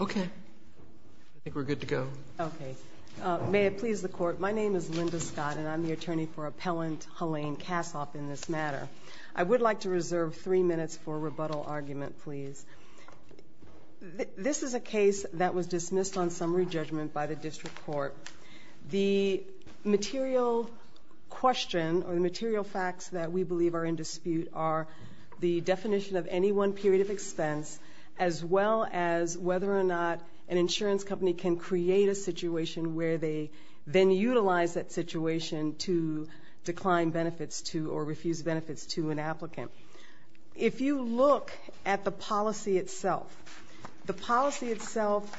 Okay. I think we're good to go. Okay. May it please the Court, my name is Linda Scott and I'm the attorney for Appellant Halayne Kasoff in this matter. I would like to reserve three minutes for a rebuttal argument, please. This is a case that was dismissed on summary judgment by the District Court. The material question or the material facts that we believe are in dispute are the definition of any one period of expense as well as whether or not an insurance company can create a situation where they then utilize that situation to decline benefits to or refuse benefits to an applicant. If you look at the policy itself, the policy itself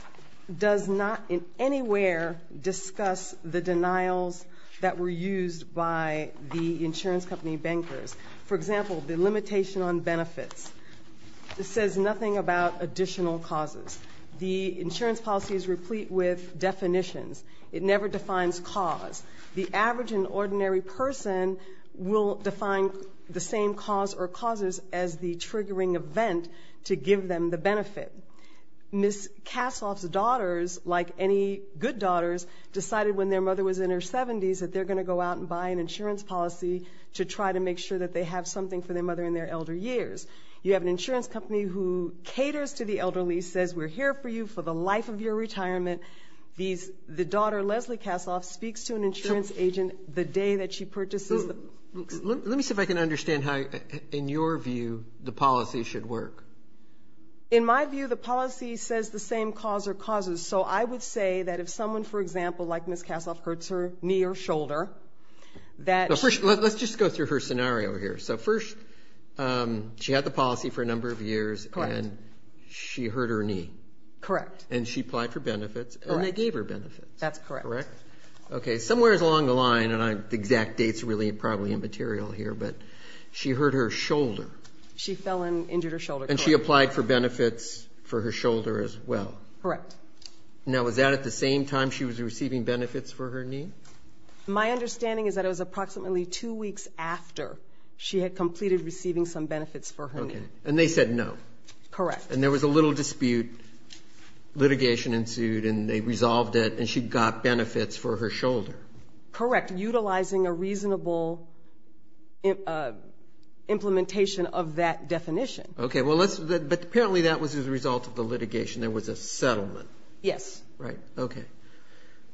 does not in anywhere discuss the denials that were used by the insurance company bankers. For example, the limitation on benefits says nothing about additional causes. The insurance policy is replete with definitions. It never defines cause. The average and ordinary person will define the same cause or causes as the triggering event to give them the benefit. Ms. Kasoff's daughters, like any good daughters, decided when their mother was in her 70s that they're going to go out and buy an insurance policy to try to make sure that they have something for their mother in their elder years. You have an insurance company who caters to the elderly, says we're here for you for the life of your retirement. The daughter, Leslie Kasoff, speaks to an insurance agent the day that she purchases the ______. Let me see if I can understand how, in your view, the policy should work. In my view, the policy says the same cause or causes. So I would say that if someone, for example, like Ms. Kasoff, hurts her knee or shoulder, that she ______. Let's just go through her scenario here. So first, she had the policy for a number of years, and she hurt her knee. Correct. And she applied for benefits, and they gave her benefits. That's correct. Correct? Okay, somewhere along the line, and the exact date's really probably immaterial here, but she hurt her shoulder. She fell and injured her shoulder. And she applied for benefits for her shoulder as well. Correct. Now, was that at the same time she was receiving benefits for her knee? My understanding is that it was approximately two weeks after she had completed receiving some benefits for her knee. Okay, and they said no. Correct. And there was a little dispute. Litigation ensued, and they resolved it, and she got benefits for her shoulder. Correct, utilizing a reasonable implementation of that definition. Okay, but apparently that was as a result of the litigation. There was a settlement. Yes. Right, okay.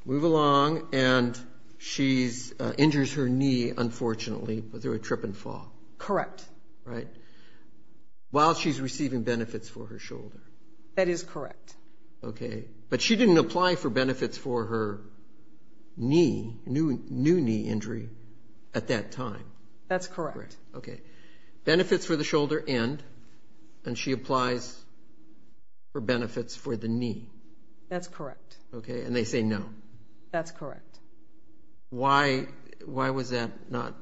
Move along, and she injures her knee, unfortunately, through a trip and fall. Correct. Right, while she's receiving benefits for her shoulder. That is correct. Okay, but she didn't apply for benefits for her knee, new knee injury, at that time. That's correct. Benefits for the shoulder end, and she applies for benefits for the knee. That's correct. Okay, and they say no. That's correct. Why was that not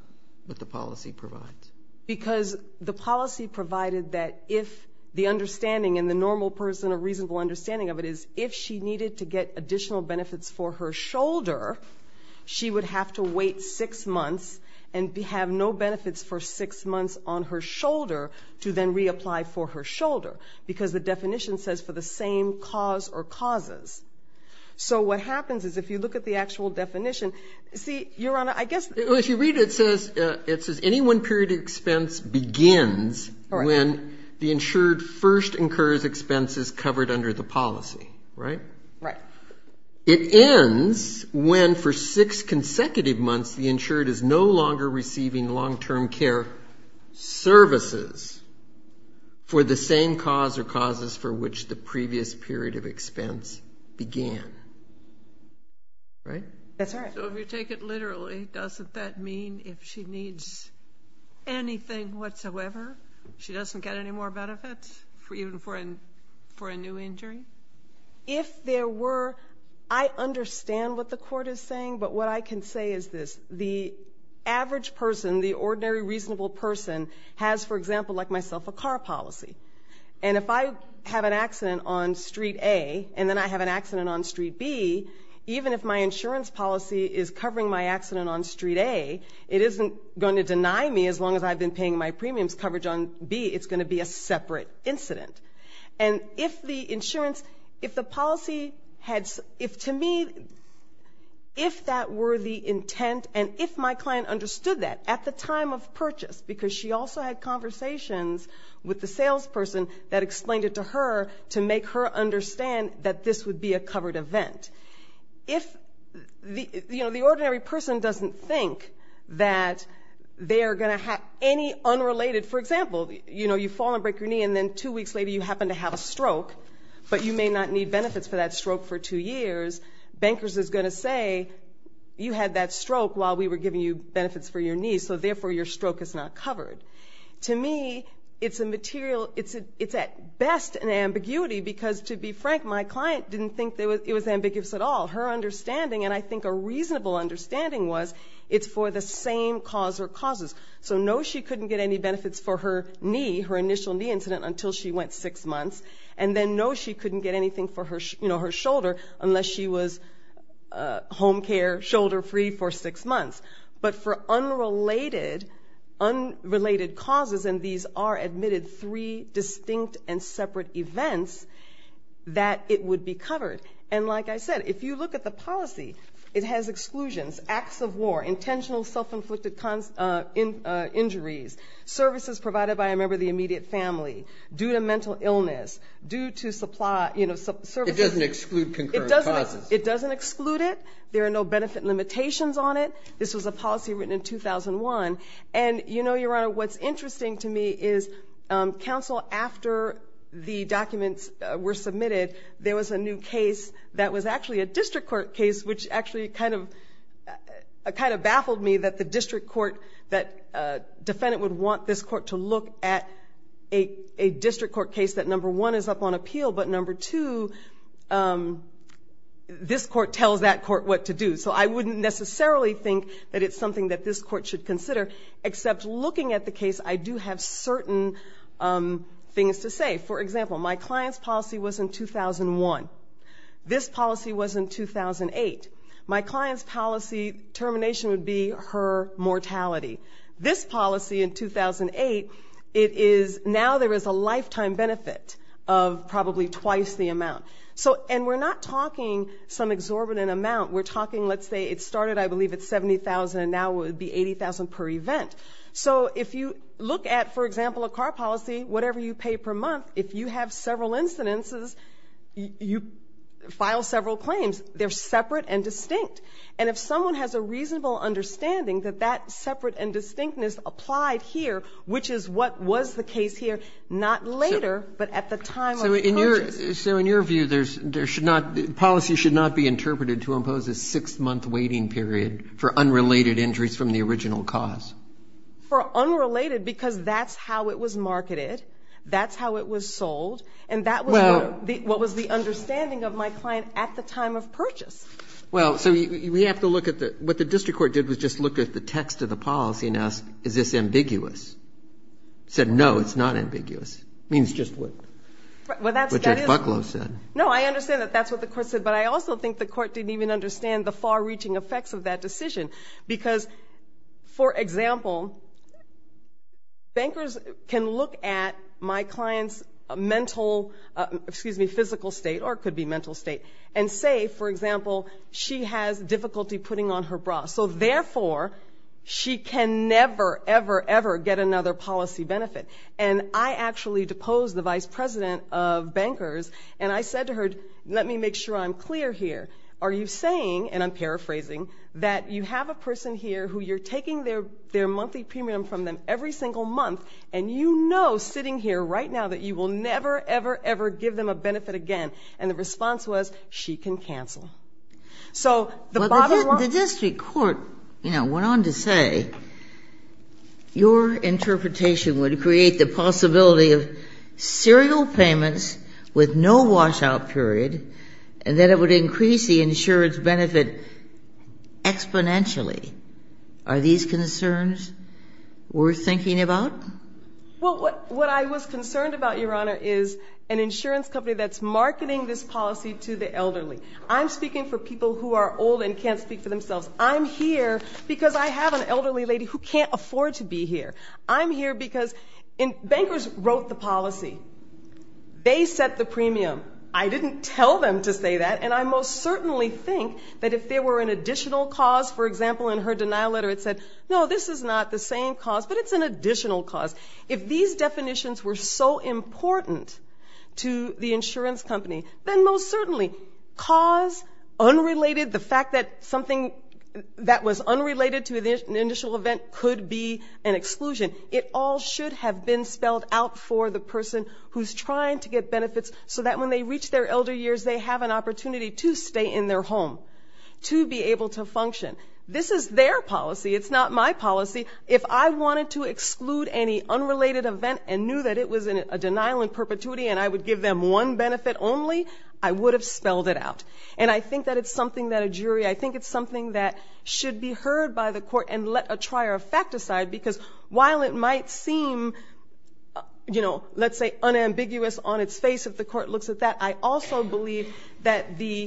what the policy provides? Because the policy provided that if the understanding in the normal person, a reasonable understanding of it, is if she needed to get additional benefits for her shoulder, she would have to wait six months, and have no benefits for six months on her shoulder, to then reapply for her shoulder, because the definition says for the same cause or causes. So what happens is if you look at the actual definition, see, Your Honor, I guess. Well, if you read it, it says, any one period of expense begins when the insured first incurs expenses covered under the policy, right? Right. It ends when, for six consecutive months, the insured is no longer receiving long-term care services for the same cause or causes for which the previous period of expense began, right? That's right. So if you take it literally, doesn't that mean if she needs anything whatsoever, she doesn't get any more benefits, even for a new injury? If there were, I understand what the Court is saying, but what I can say is this. The average person, the ordinary reasonable person, has, for example, like myself, a car policy. And if I have an accident on Street A, and then I have an accident on Street B, even if my insurance policy is covering my accident on Street A, it isn't going to deny me as long as I've been paying my premiums coverage on B. It's going to be a separate incident. And if the insurance, if the policy had, if to me, if that were the intent and if my client understood that at the time of purchase, because she also had conversations with the salesperson that explained it to her to make her understand that this would be a covered event. If the ordinary person doesn't think that they are going to have any unrelated, for example, you know, you fall and break your knee and then two weeks later you happen to have a stroke, but you may not need benefits for that stroke for two years, Bankers is going to say you had that stroke while we were giving you benefits for your knee, so therefore your stroke is not covered. To me, it's a material, it's at best an ambiguity, because to be frank, my client didn't think it was ambiguous at all. Her understanding, and I think a reasonable understanding was, it's for the same cause or causes. So no, she couldn't get any benefits for her knee, her initial knee incident, until she went six months. And then no, she couldn't get anything for her shoulder, unless she was home care shoulder free for six months. But for unrelated causes, and these are admitted three distinct and separate events, that it would be covered. And like I said, if you look at the policy, it has exclusions, acts of war, intentional self-inflicted injuries, services provided by a member of the immediate family, due to mental illness, due to supply, you know, services. It doesn't exclude concurrent causes. It doesn't exclude it. There are no benefit limitations on it. This was a policy written in 2001. And you know, Your Honor, what's interesting to me is counsel, after the documents were submitted, there was a new case that was actually a district court case, which actually kind of baffled me that the district court, that a defendant would want this court to look at a district court case that, number one, is up on appeal, but number two, this court tells that court what to do. So I wouldn't necessarily think that it's something that this court should consider, except looking at the case, I do have certain things to say. For example, my client's policy was in 2001. This policy was in 2008. My client's policy termination would be her mortality. This policy in 2008, it is now there is a lifetime benefit of probably twice the amount. And we're not talking some exorbitant amount. We're talking, let's say it started, I believe, at $70,000, and now it would be $80,000 per event. So if you look at, for example, a car policy, whatever you pay per month, if you have several incidences, you file several claims. They're separate and distinct. And if someone has a reasonable understanding that that separate and distinctness applied here, which is what was the case here, not later, but at the time of the purchase. So in your view, there should not, policy should not be interpreted to impose a six-month waiting period for unrelated injuries from the original cause. For unrelated, because that's how it was marketed, that's how it was sold, and that was what was the understanding of my client at the time of purchase. Well, so we have to look at the, what the district court did was just look at the text of the policy and ask, is this ambiguous? Said, no, it's not ambiguous. It means just what Jack Bucklow said. No, I understand that that's what the court said, but I also think the court didn't even understand the far-reaching effects of that decision. Because, for example, bankers can look at my client's mental, excuse me, physical state, or it could be mental state, and say, for example, she has difficulty putting on her bra. So therefore, she can never, ever, ever get another policy benefit. And I actually deposed the vice president of bankers, and I said to her, let me make sure I'm clear here. Are you saying, and I'm paraphrasing, that you have a person here who you're taking their monthly premium from them every single month, and you know, sitting here right now, that you will never, ever, ever give them a benefit again? And the response was, she can cancel. So the bottom line was... Well, the district court, you know, went on to say, your interpretation would create the possibility of serial payments with no washout period, and that it would increase the insurance benefit exponentially. Are these concerns worth thinking about? Well, what I was concerned about, Your Honor, is an insurance company that's marketing this policy to the elderly. I'm speaking for people who are old and can't speak for themselves. I'm here because I have an elderly lady who can't afford to be here. I'm here because bankers wrote the policy. They set the premium. I didn't tell them to say that, and I most certainly think that if there were an additional cause, for example, in her denial letter it said, no, this is not the same cause, but it's an additional cause. If these definitions were so important to the insurance company, then most certainly, cause, unrelated, the fact that something that was unrelated to an initial event could be an exclusion. It all should have been spelled out for the person who's trying to get benefits so that when they reach their elder years, they have an opportunity to stay in their home, to be able to function. This is their policy. It's not my policy. If I wanted to exclude any unrelated event and knew that it was a denial in perpetuity and I would give them one benefit only, I would have spelled it out. And I think that it's something that a jury, I think it's something that should be heard by the court and let a trier of fact decide because while it might seem, you know, let's say unambiguous on its face if the court looks at that, I also believe that the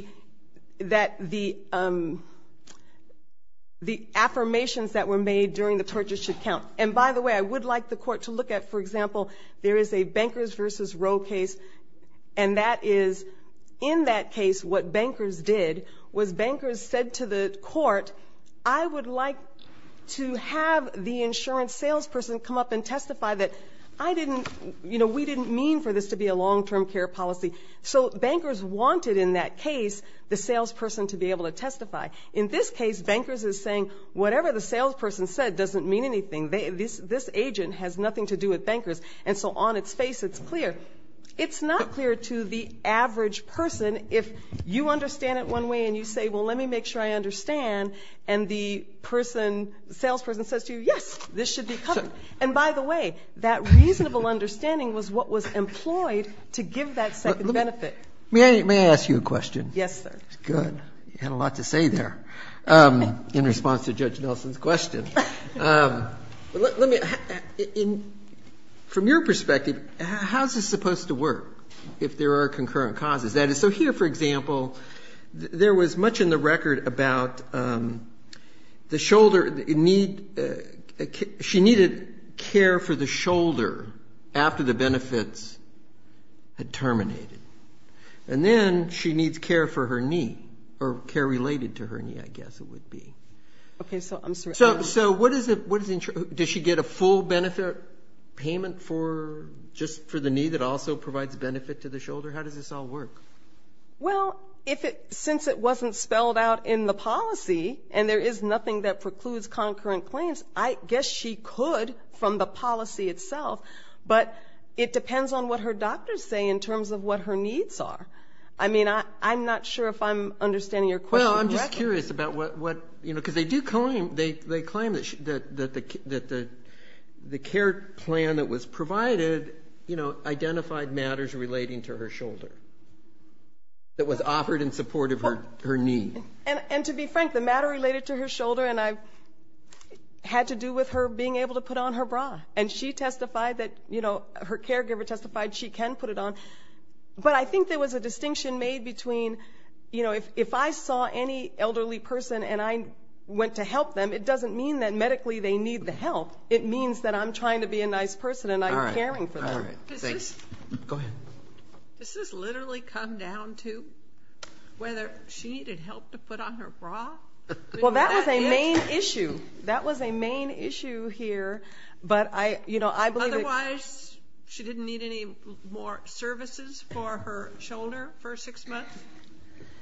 affirmations that were made during the torture should count. And by the way, I would like the court to look at, for example, there is a Bankers v. Roe case, and that is in that case what bankers did was bankers said to the court, I would like to have the insurance salesperson come up and testify that I didn't, you know, we didn't mean for this to be a long-term care policy. So bankers wanted in that case the salesperson to be able to testify. In this case, bankers is saying whatever the salesperson said doesn't mean anything. This agent has nothing to do with bankers. And so on its face it's clear. It's not clear to the average person if you understand it one way and you say, well, let me make sure I understand. And the person, salesperson says to you, yes, this should be covered. And by the way, that reasonable understanding was what was employed to give that second benefit. May I ask you a question? Yes, sir. Good. You had a lot to say there in response to Judge Nelson's question. Let me ask, from your perspective, how is this supposed to work if there are concurrent causes? So here, for example, there was much in the record about the shoulder. She needed care for the shoulder after the benefits had terminated. And then she needs care for her knee or care related to her knee, I guess it would be. Okay. So I'm sorry. So what is it? Does she get a full benefit payment for just for the knee that also provides benefit to the shoulder? How does this all work? Well, since it wasn't spelled out in the policy and there is nothing that precludes concurrent claims, I guess she could from the policy itself. But it depends on what her doctors say in terms of what her needs are. I mean, I'm not sure if I'm understanding your question correctly. Well, I'm just curious about what, you know, because they do claim that the care plan that was provided, you know, identified matters relating to her shoulder that was offered in support of her knee. And to be frank, the matter related to her shoulder and had to do with her being able to put on her bra. And she testified that, you know, her caregiver testified she can put it on. But I think there was a distinction made between, you know, if I saw any elderly person and I went to help them, it doesn't mean that medically they need the help. It means that I'm trying to be a nice person and I'm caring for them. All right. Thanks. Go ahead. Does this literally come down to whether she needed help to put on her bra? Well, that was a main issue. That was a main issue here. But, you know, I believe it. Otherwise, she didn't need any more services for her shoulder for six months?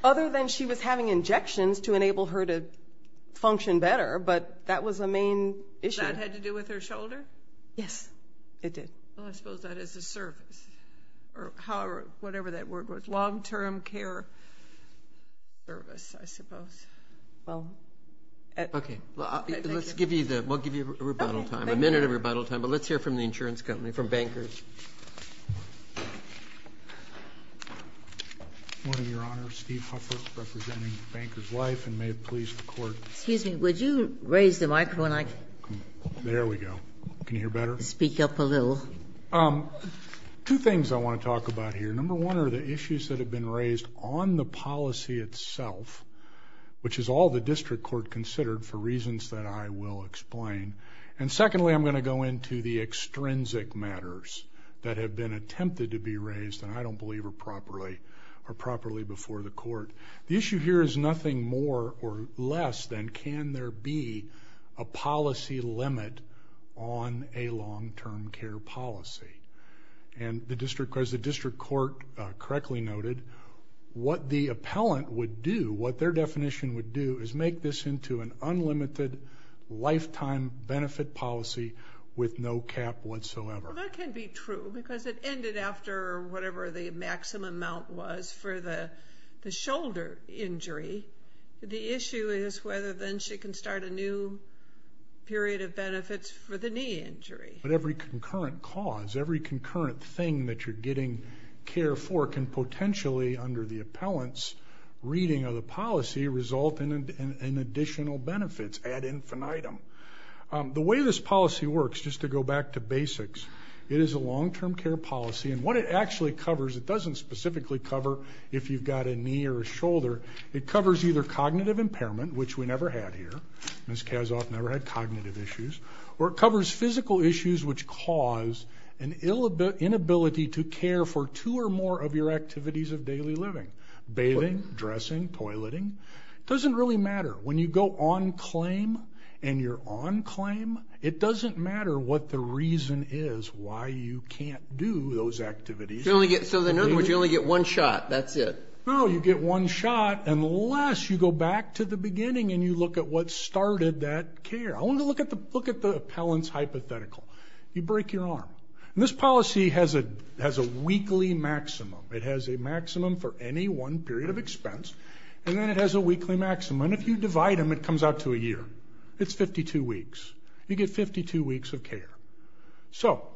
Other than she was having injections to enable her to function better. But that was a main issue. And did that have to do with her shoulder? Yes, it did. Well, I suppose that is a service or whatever that word was, long-term care service, I suppose. Well, thank you. Okay. We'll give you a minute of rebuttal time, but let's hear from the insurance company, from bankers. Good morning, Your Honor. Steve Hufford representing Bankers Life and may it please the Court. Excuse me. Would you raise the microphone? There we go. Can you hear better? Speak up a little. Two things I want to talk about here. Number one are the issues that have been raised on the policy itself, which is all the district court considered for reasons that I will explain. And secondly, I'm going to go into the extrinsic matters that have been attempted to be raised, and I don't believe are properly before the Court. The issue here is nothing more or less than can there be a policy limit on a long-term care policy. And the district court correctly noted what the appellant would do, what their definition would do is make this into an unlimited lifetime benefit policy with no cap whatsoever. Well, that can be true because it ended after whatever the maximum amount was for the shoulder injury. The issue is whether then she can start a new period of benefits for the knee injury. But every concurrent cause, every concurrent thing that you're getting care for can potentially, under the appellant's reading of the policy, result in additional benefits ad infinitum. The way this policy works, just to go back to basics, it is a long-term care policy. And what it actually covers, it doesn't specifically cover if you've got a knee or a shoulder. It covers either cognitive impairment, which we never had here. Ms. Kasoff never had cognitive issues. Or it covers physical issues which cause an inability to care for two or more of your activities of daily living, bathing, dressing, toileting. It doesn't really matter. When you go on claim and you're on claim, it doesn't matter what the reason is why you can't do those activities. So in other words, you only get one shot, that's it? No, you get one shot unless you go back to the beginning and you look at what started that care. I want to look at the appellant's hypothetical. You break your arm. And this policy has a weekly maximum. It has a maximum for any one period of expense. And then it has a weekly maximum. And if you divide them, it comes out to a year. It's 52 weeks. You get 52 weeks of care. So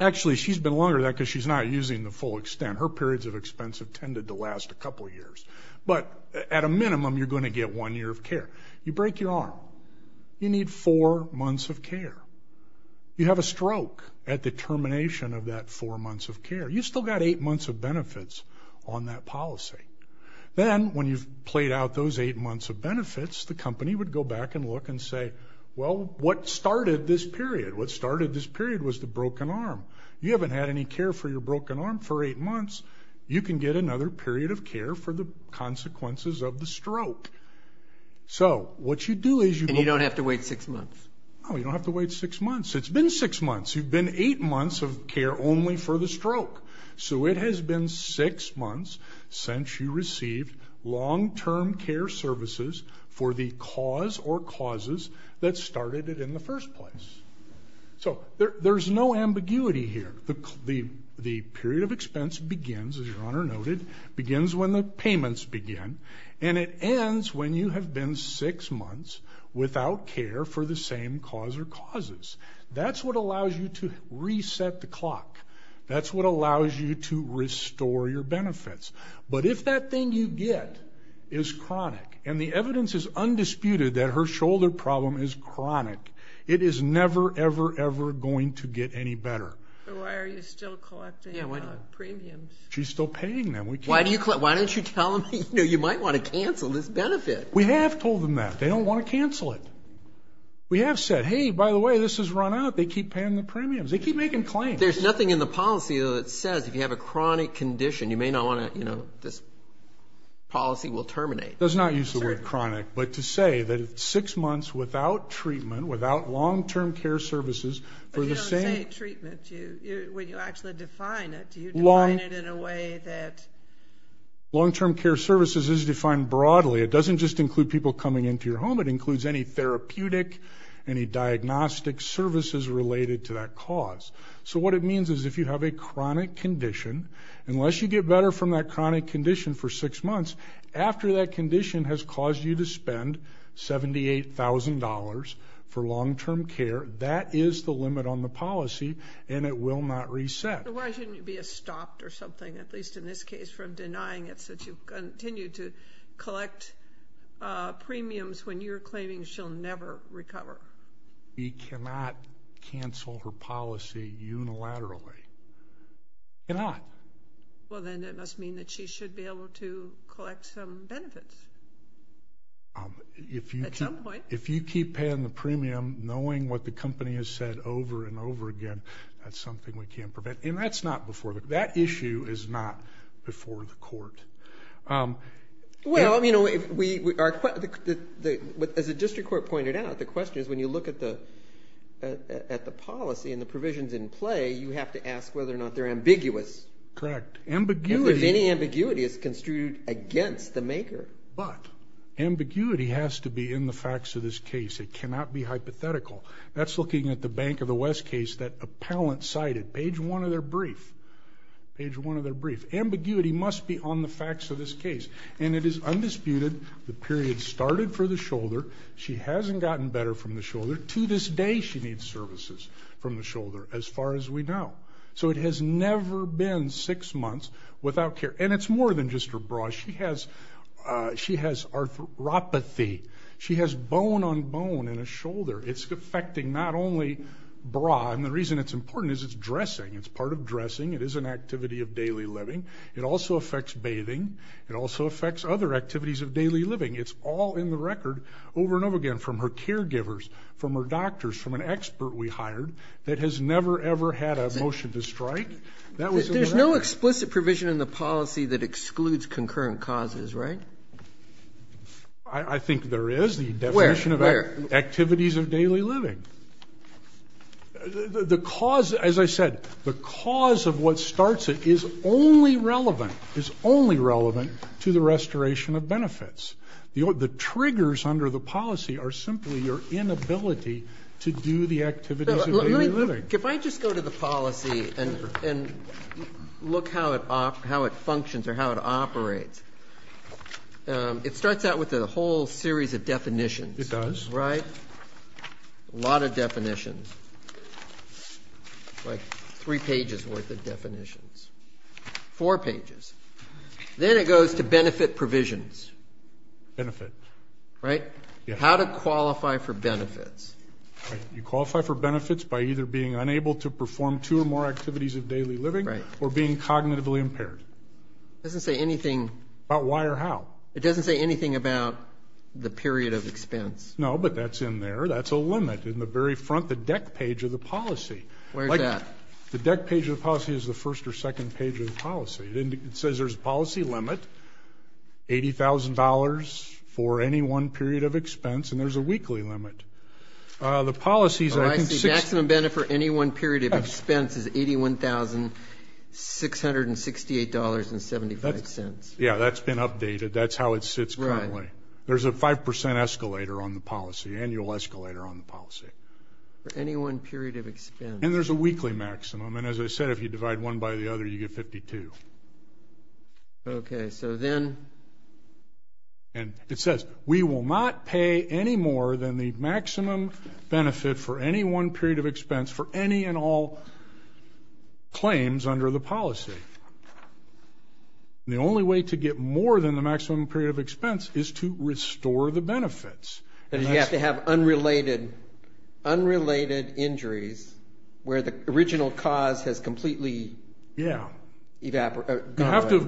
actually, she's been longer than that because she's not using the full extent. Her periods of expense have tended to last a couple years. But at a minimum, you're going to get one year of care. You break your arm. You need four months of care. You have a stroke at the termination of that four months of care. You've still got eight months of benefits on that policy. Then, when you've played out those eight months of benefits, the company would go back and look and say, well, what started this period? What started this period was the broken arm. You haven't had any care for your broken arm for eight months. You can get another period of care for the consequences of the stroke. And you don't have to wait six months? No, you don't have to wait six months. It's been six months. You've been eight months of care only for the stroke. So it has been six months since you received long-term care services for the cause or causes that started it in the first place. So there's no ambiguity here. The period of expense begins, as Your Honor noted, begins when the payments begin, and it ends when you have been six months without care for the same cause or causes. That's what allows you to reset the clock. That's what allows you to restore your benefits. But if that thing you get is chronic, and the evidence is undisputed that her shoulder problem is chronic, it is never, ever, ever going to get any better. Why are you still collecting premiums? She's still paying them. Why don't you tell them, you know, you might want to cancel this benefit? We have told them that. They don't want to cancel it. We have said, hey, by the way, this has run out. They keep paying the premiums. They keep making claims. There's nothing in the policy, though, that says if you have a chronic condition, you may not want to, you know, this policy will terminate. Let's not use the word chronic, but to say that six months without treatment, without long-term care services for the same. But you don't say treatment. When you actually define it, do you define it in a way that? Long-term care services is defined broadly. It doesn't just include people coming into your home. It includes any therapeutic, any diagnostic services related to that cause. So what it means is if you have a chronic condition, unless you get better from that chronic condition for six months, after that condition has caused you to spend $78,000 for long-term care, that is the limit on the policy, and it will not reset. So why shouldn't you be stopped or something, at least in this case, from denying it since you continue to collect premiums when you're claiming she'll never recover? We cannot cancel her policy unilaterally. We cannot. Well, then it must mean that she should be able to collect some benefits. At some point. If you keep paying the premium, knowing what the company has said over and over again, that's something we can't prevent. And that's not before. That issue is not before the court. Well, you know, as the district court pointed out, the question is when you look at the policy and the provisions in play, you have to ask whether or not they're ambiguous. Correct. If any ambiguity is construed against the maker. But ambiguity has to be in the facts of this case. It cannot be hypothetical. That's looking at the Bank of the West case that appellant cited, page one of their brief. Page one of their brief. Ambiguity must be on the facts of this case. And it is undisputed the period started for the shoulder. She hasn't gotten better from the shoulder. To this day she needs services from the shoulder, as far as we know. So it has never been six months without care. And it's more than just her bra. She has arthropathy. She has bone on bone in her shoulder. It's affecting not only bra, and the reason it's important is it's dressing. It's part of dressing. It is an activity of daily living. It also affects bathing. It also affects other activities of daily living. It's all in the record over and over again from her caregivers, from her doctors, from an expert we hired that has never, ever had a motion to strike. There's no explicit provision in the policy that excludes concurrent causes, right? I think there is. Where? Activities of daily living. The cause, as I said, the cause of what starts it is only relevant, is only relevant to the restoration of benefits. The triggers under the policy are simply your inability to do the activities of daily living. If I just go to the policy and look how it functions or how it operates, it starts out with a whole series of definitions. It does. Right? A lot of definitions, like three pages worth of definitions, four pages. Then it goes to benefit provisions. Benefit. Right? How to qualify for benefits. You qualify for benefits by either being unable to perform two or more activities of daily living or being cognitively impaired. It doesn't say anything. About why or how? It doesn't say anything about the period of expense. No, but that's in there. That's a limit in the very front, the deck page of the policy. Where is that? The deck page of the policy is the first or second page of the policy. It says there's a policy limit, $80,000 for any one period of expense, and there's a weekly limit. Oh, I see. Maximum benefit for any one period of expense is $81,668.75. Yeah, that's been updated. That's how it sits currently. There's a 5% escalator on the policy, annual escalator on the policy. For any one period of expense. And there's a weekly maximum. And as I said, if you divide one by the other, you get 52. Okay, so then? And it says we will not pay any more than the maximum benefit for any one period of expense for any and all claims under the policy. The only way to get more than the maximum period of expense is to restore the benefits. You have to have unrelated injuries where the original cause has completely eliminated. You have to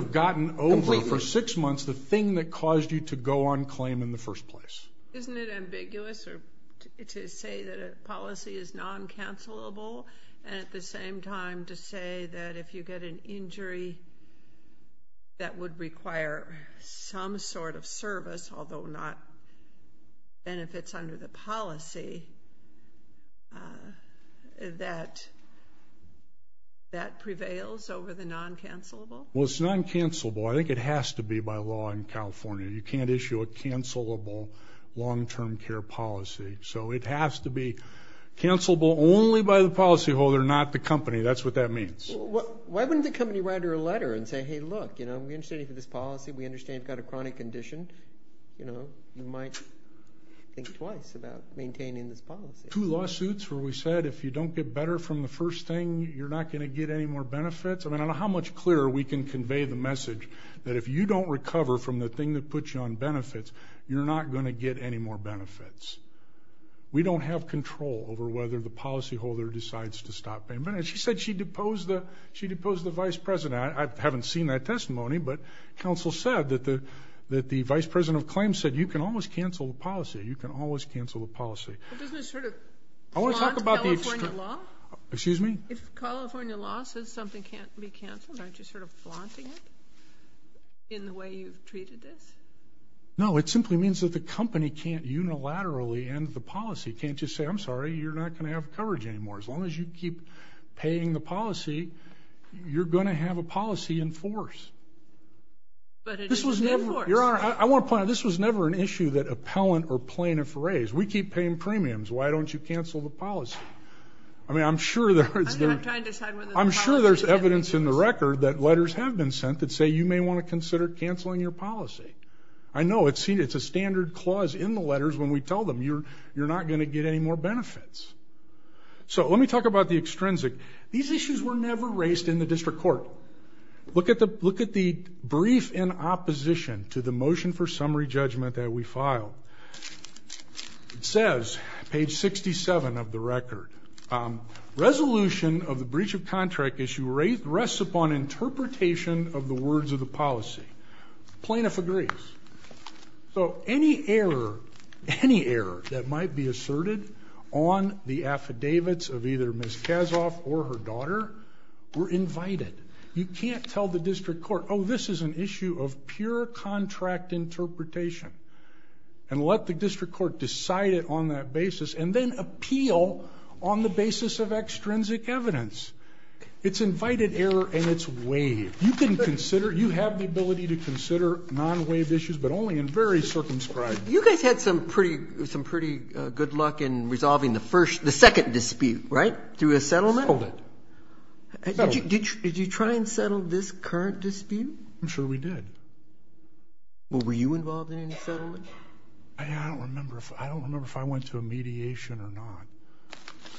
have gotten over for six months the thing that caused you to go on claim in the first place. Isn't it ambiguous to say that a policy is non-cancelable and at the same time to say that if you get an injury that would require some sort of service, although not benefits under the policy, that that prevails over the non-cancelable? Well, it's non-cancelable. I think it has to be by law in California. You can't issue a cancelable long-term care policy. So it has to be cancelable only by the policyholder, not the company. That's what that means. Why wouldn't the company write her a letter and say, hey, look, you know, we understand you have this policy. We understand you've got a chronic condition. You know, you might think twice about maintaining this policy. Two lawsuits where we said if you don't get better from the first thing, you're not going to get any more benefits. I mean, I don't know how much clearer we can convey the message that if you don't recover from the thing that puts you on benefits, you're not going to get any more benefits. We don't have control over whether the policyholder decides to stop payment. And she said she deposed the vice president. And I haven't seen that testimony, but counsel said that the vice president of claims said you can always cancel the policy. You can always cancel the policy. But doesn't it sort of flaunt California law? Excuse me? If California law says something can't be canceled, aren't you sort of flaunting it in the way you've treated this? No. It simply means that the company can't unilaterally end the policy. Can't just say, I'm sorry, you're not going to have coverage anymore. As long as you keep paying the policy, you're going to have a policy in force. But it is in force. Your Honor, I want to point out, this was never an issue that appellant or plaintiff raised. We keep paying premiums. Why don't you cancel the policy? I mean, I'm sure there's evidence in the record that letters have been sent that say you may want to consider canceling your policy. I know. It's a standard clause in the letters when we tell them you're not going to get any more benefits. So let me talk about the extrinsic. These issues were never raised in the district court. Look at the brief in opposition to the motion for summary judgment that we filed. It says, page 67 of the record, resolution of the breach of contract issue rests upon interpretation of the words of the policy. Plaintiff agrees. So any error that might be asserted on the affidavits of either Ms. Kazoff or her daughter were invited. You can't tell the district court, oh, this is an issue of pure contract interpretation, and let the district court decide it on that basis, and then appeal on the basis of extrinsic evidence. It's invited error and it's waived. You can consider, you have the ability to consider non-waived issues, but only in very circumscribed. You guys had some pretty good luck in resolving the second dispute, right, through a settlement? Settlement. Did you try and settle this current dispute? I'm sure we did. Well, were you involved in any settlement? I don't remember if I went to a mediation or not.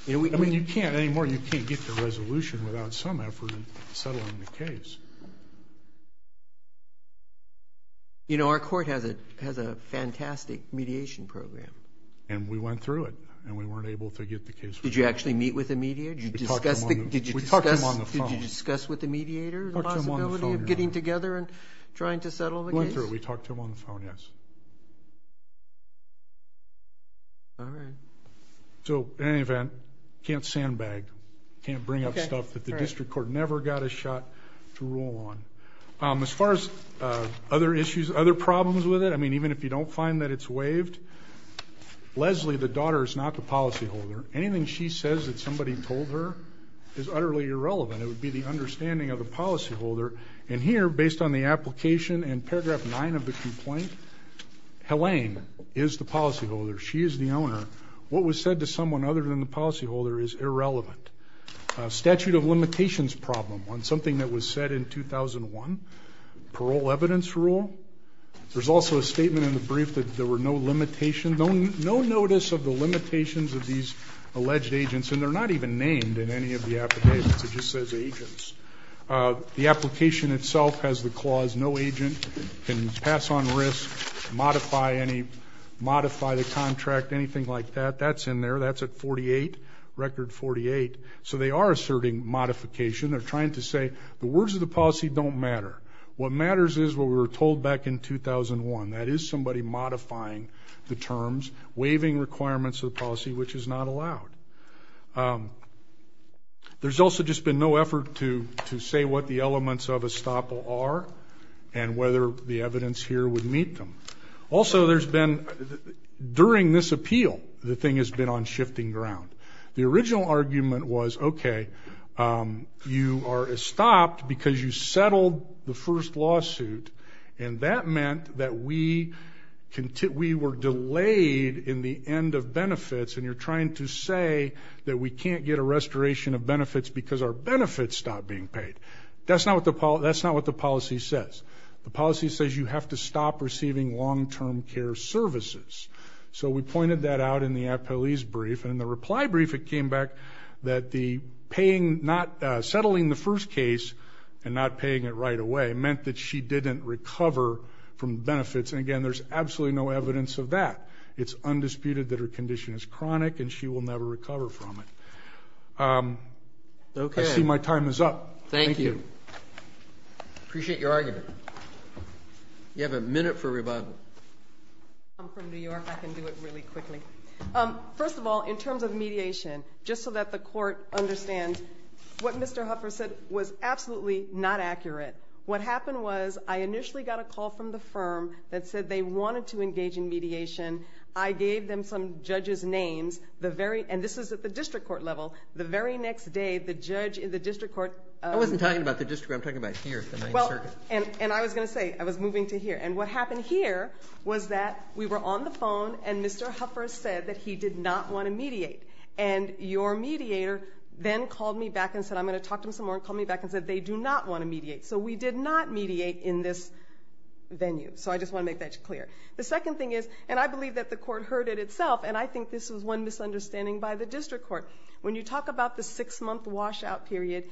I mean, you can't anymore. You can't get the resolution without some effort in settling the case. You know, our court has a fantastic mediation program. And we went through it, and we weren't able to get the case. Did you actually meet with the mediator? Did you discuss with the mediator the possibility of getting together and trying to settle the case? We went through it. We talked to him on the phone, yes. All right. So, in any event, can't sandbag. Can't bring up stuff that the district court never got a shot to rule on. As far as other issues, other problems with it, I mean, even if you don't find that it's waived, Leslie, the daughter, is not the policyholder. Anything she says that somebody told her is utterly irrelevant. It would be the understanding of the policyholder. And here, based on the application in paragraph 9 of the complaint, Helaine is the policyholder. She is the owner. What was said to someone other than the policyholder is irrelevant. Statute of limitations problem on something that was said in 2001, parole evidence rule. There's also a statement in the brief that there were no limitations, no notice of the limitations of these alleged agents, and they're not even named in any of the applications. It just says agents. The application itself has the clause no agent can pass on risk, modify the contract, anything like that. That's in there. That's at 48, record 48. So they are asserting modification. They're trying to say the words of the policy don't matter. What matters is what we were told back in 2001, that is somebody modifying the terms, waiving requirements of the policy, which is not allowed. There's also just been no effort to say what the elements of estoppel are and whether the evidence here would meet them. Also, there's been, during this appeal, the thing has been on shifting ground. The original argument was, okay, you are estopped because you settled the first lawsuit, and that meant that we were delayed in the end of benefits, and you're trying to say that we can't get a restoration of benefits because our benefits stopped being paid. That's not what the policy says. The policy says you have to stop receiving long-term care services. So we pointed that out in the appellee's brief, and in the reply brief it came back that the settling the first case and not paying it right away meant that she didn't recover from benefits. And, again, there's absolutely no evidence of that. It's undisputed that her condition is chronic, and she will never recover from it. Okay. I see my time is up. Thank you. Appreciate your argument. You have a minute for rebuttal. I'm from New York. I can do it really quickly. First of all, in terms of mediation, just so that the court understands, what Mr. Huffer said was absolutely not accurate. What happened was I initially got a call from the firm that said they wanted to engage in mediation. I gave them some judges' names. And this is at the district court level. The very next day, the judge in the district court. I wasn't talking about the district court. I'm talking about here at the main circuit. And I was going to say I was moving to here. And what happened here was that we were on the phone, and Mr. Huffer said that he did not want to mediate. And your mediator then called me back and said I'm going to talk to him some more and called me back and said they do not want to mediate. So we did not mediate in this venue. So I just want to make that clear. The second thing is, and I believe that the court heard it itself, and I think this was one misunderstanding by the district court. When you talk about the six-month washout period,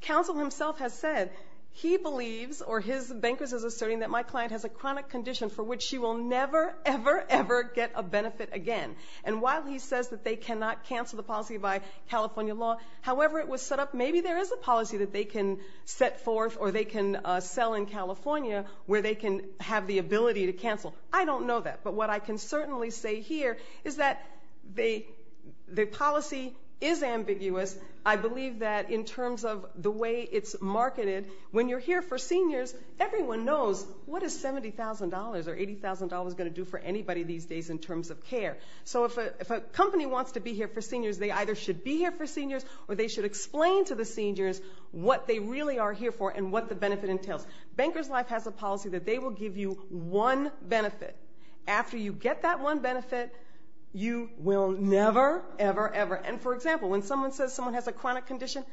counsel himself has said he believes, or his bankers are asserting, that my client has a chronic condition for which she will never, ever, ever get a benefit again. And while he says that they cannot cancel the policy by California law, however it was set up, maybe there is a policy that they can set forth or they can sell in California where they can have the ability to cancel. I don't know that, but what I can certainly say here is that the policy is ambiguous. I believe that in terms of the way it's marketed, when you're here for seniors, everyone knows what is $70,000 or $80,000 going to do for anybody these days in terms of care. So if a company wants to be here for seniors, they either should be here for seniors or they should explain to the seniors what they really are here for and what the benefit entails. Bankers Life has a policy that they will give you one benefit. After you get that one benefit, you will never, ever, ever. And for example, when someone says someone has a chronic condition,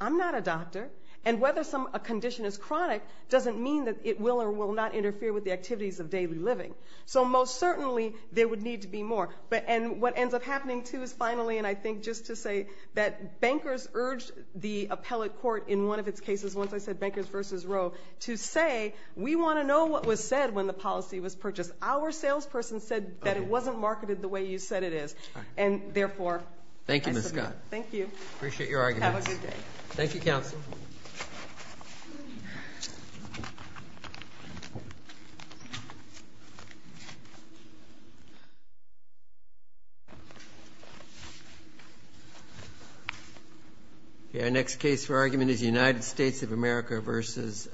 I'm not a doctor. And whether a condition is chronic doesn't mean that it will or will not interfere with the activities of daily living. So most certainly there would need to be more. And what ends up happening, too, is finally, and I think just to say, that bankers urged the appellate court in one of its cases, once I said bankers versus Roe, to say we want to know what was said when the policy was purchased. Our salesperson said that it wasn't marketed the way you said it is. And therefore, I submit. Thank you, Ms. Scott. Thank you. Have a good day. Thank you, Counsel. Our next case for argument is United States of America versus.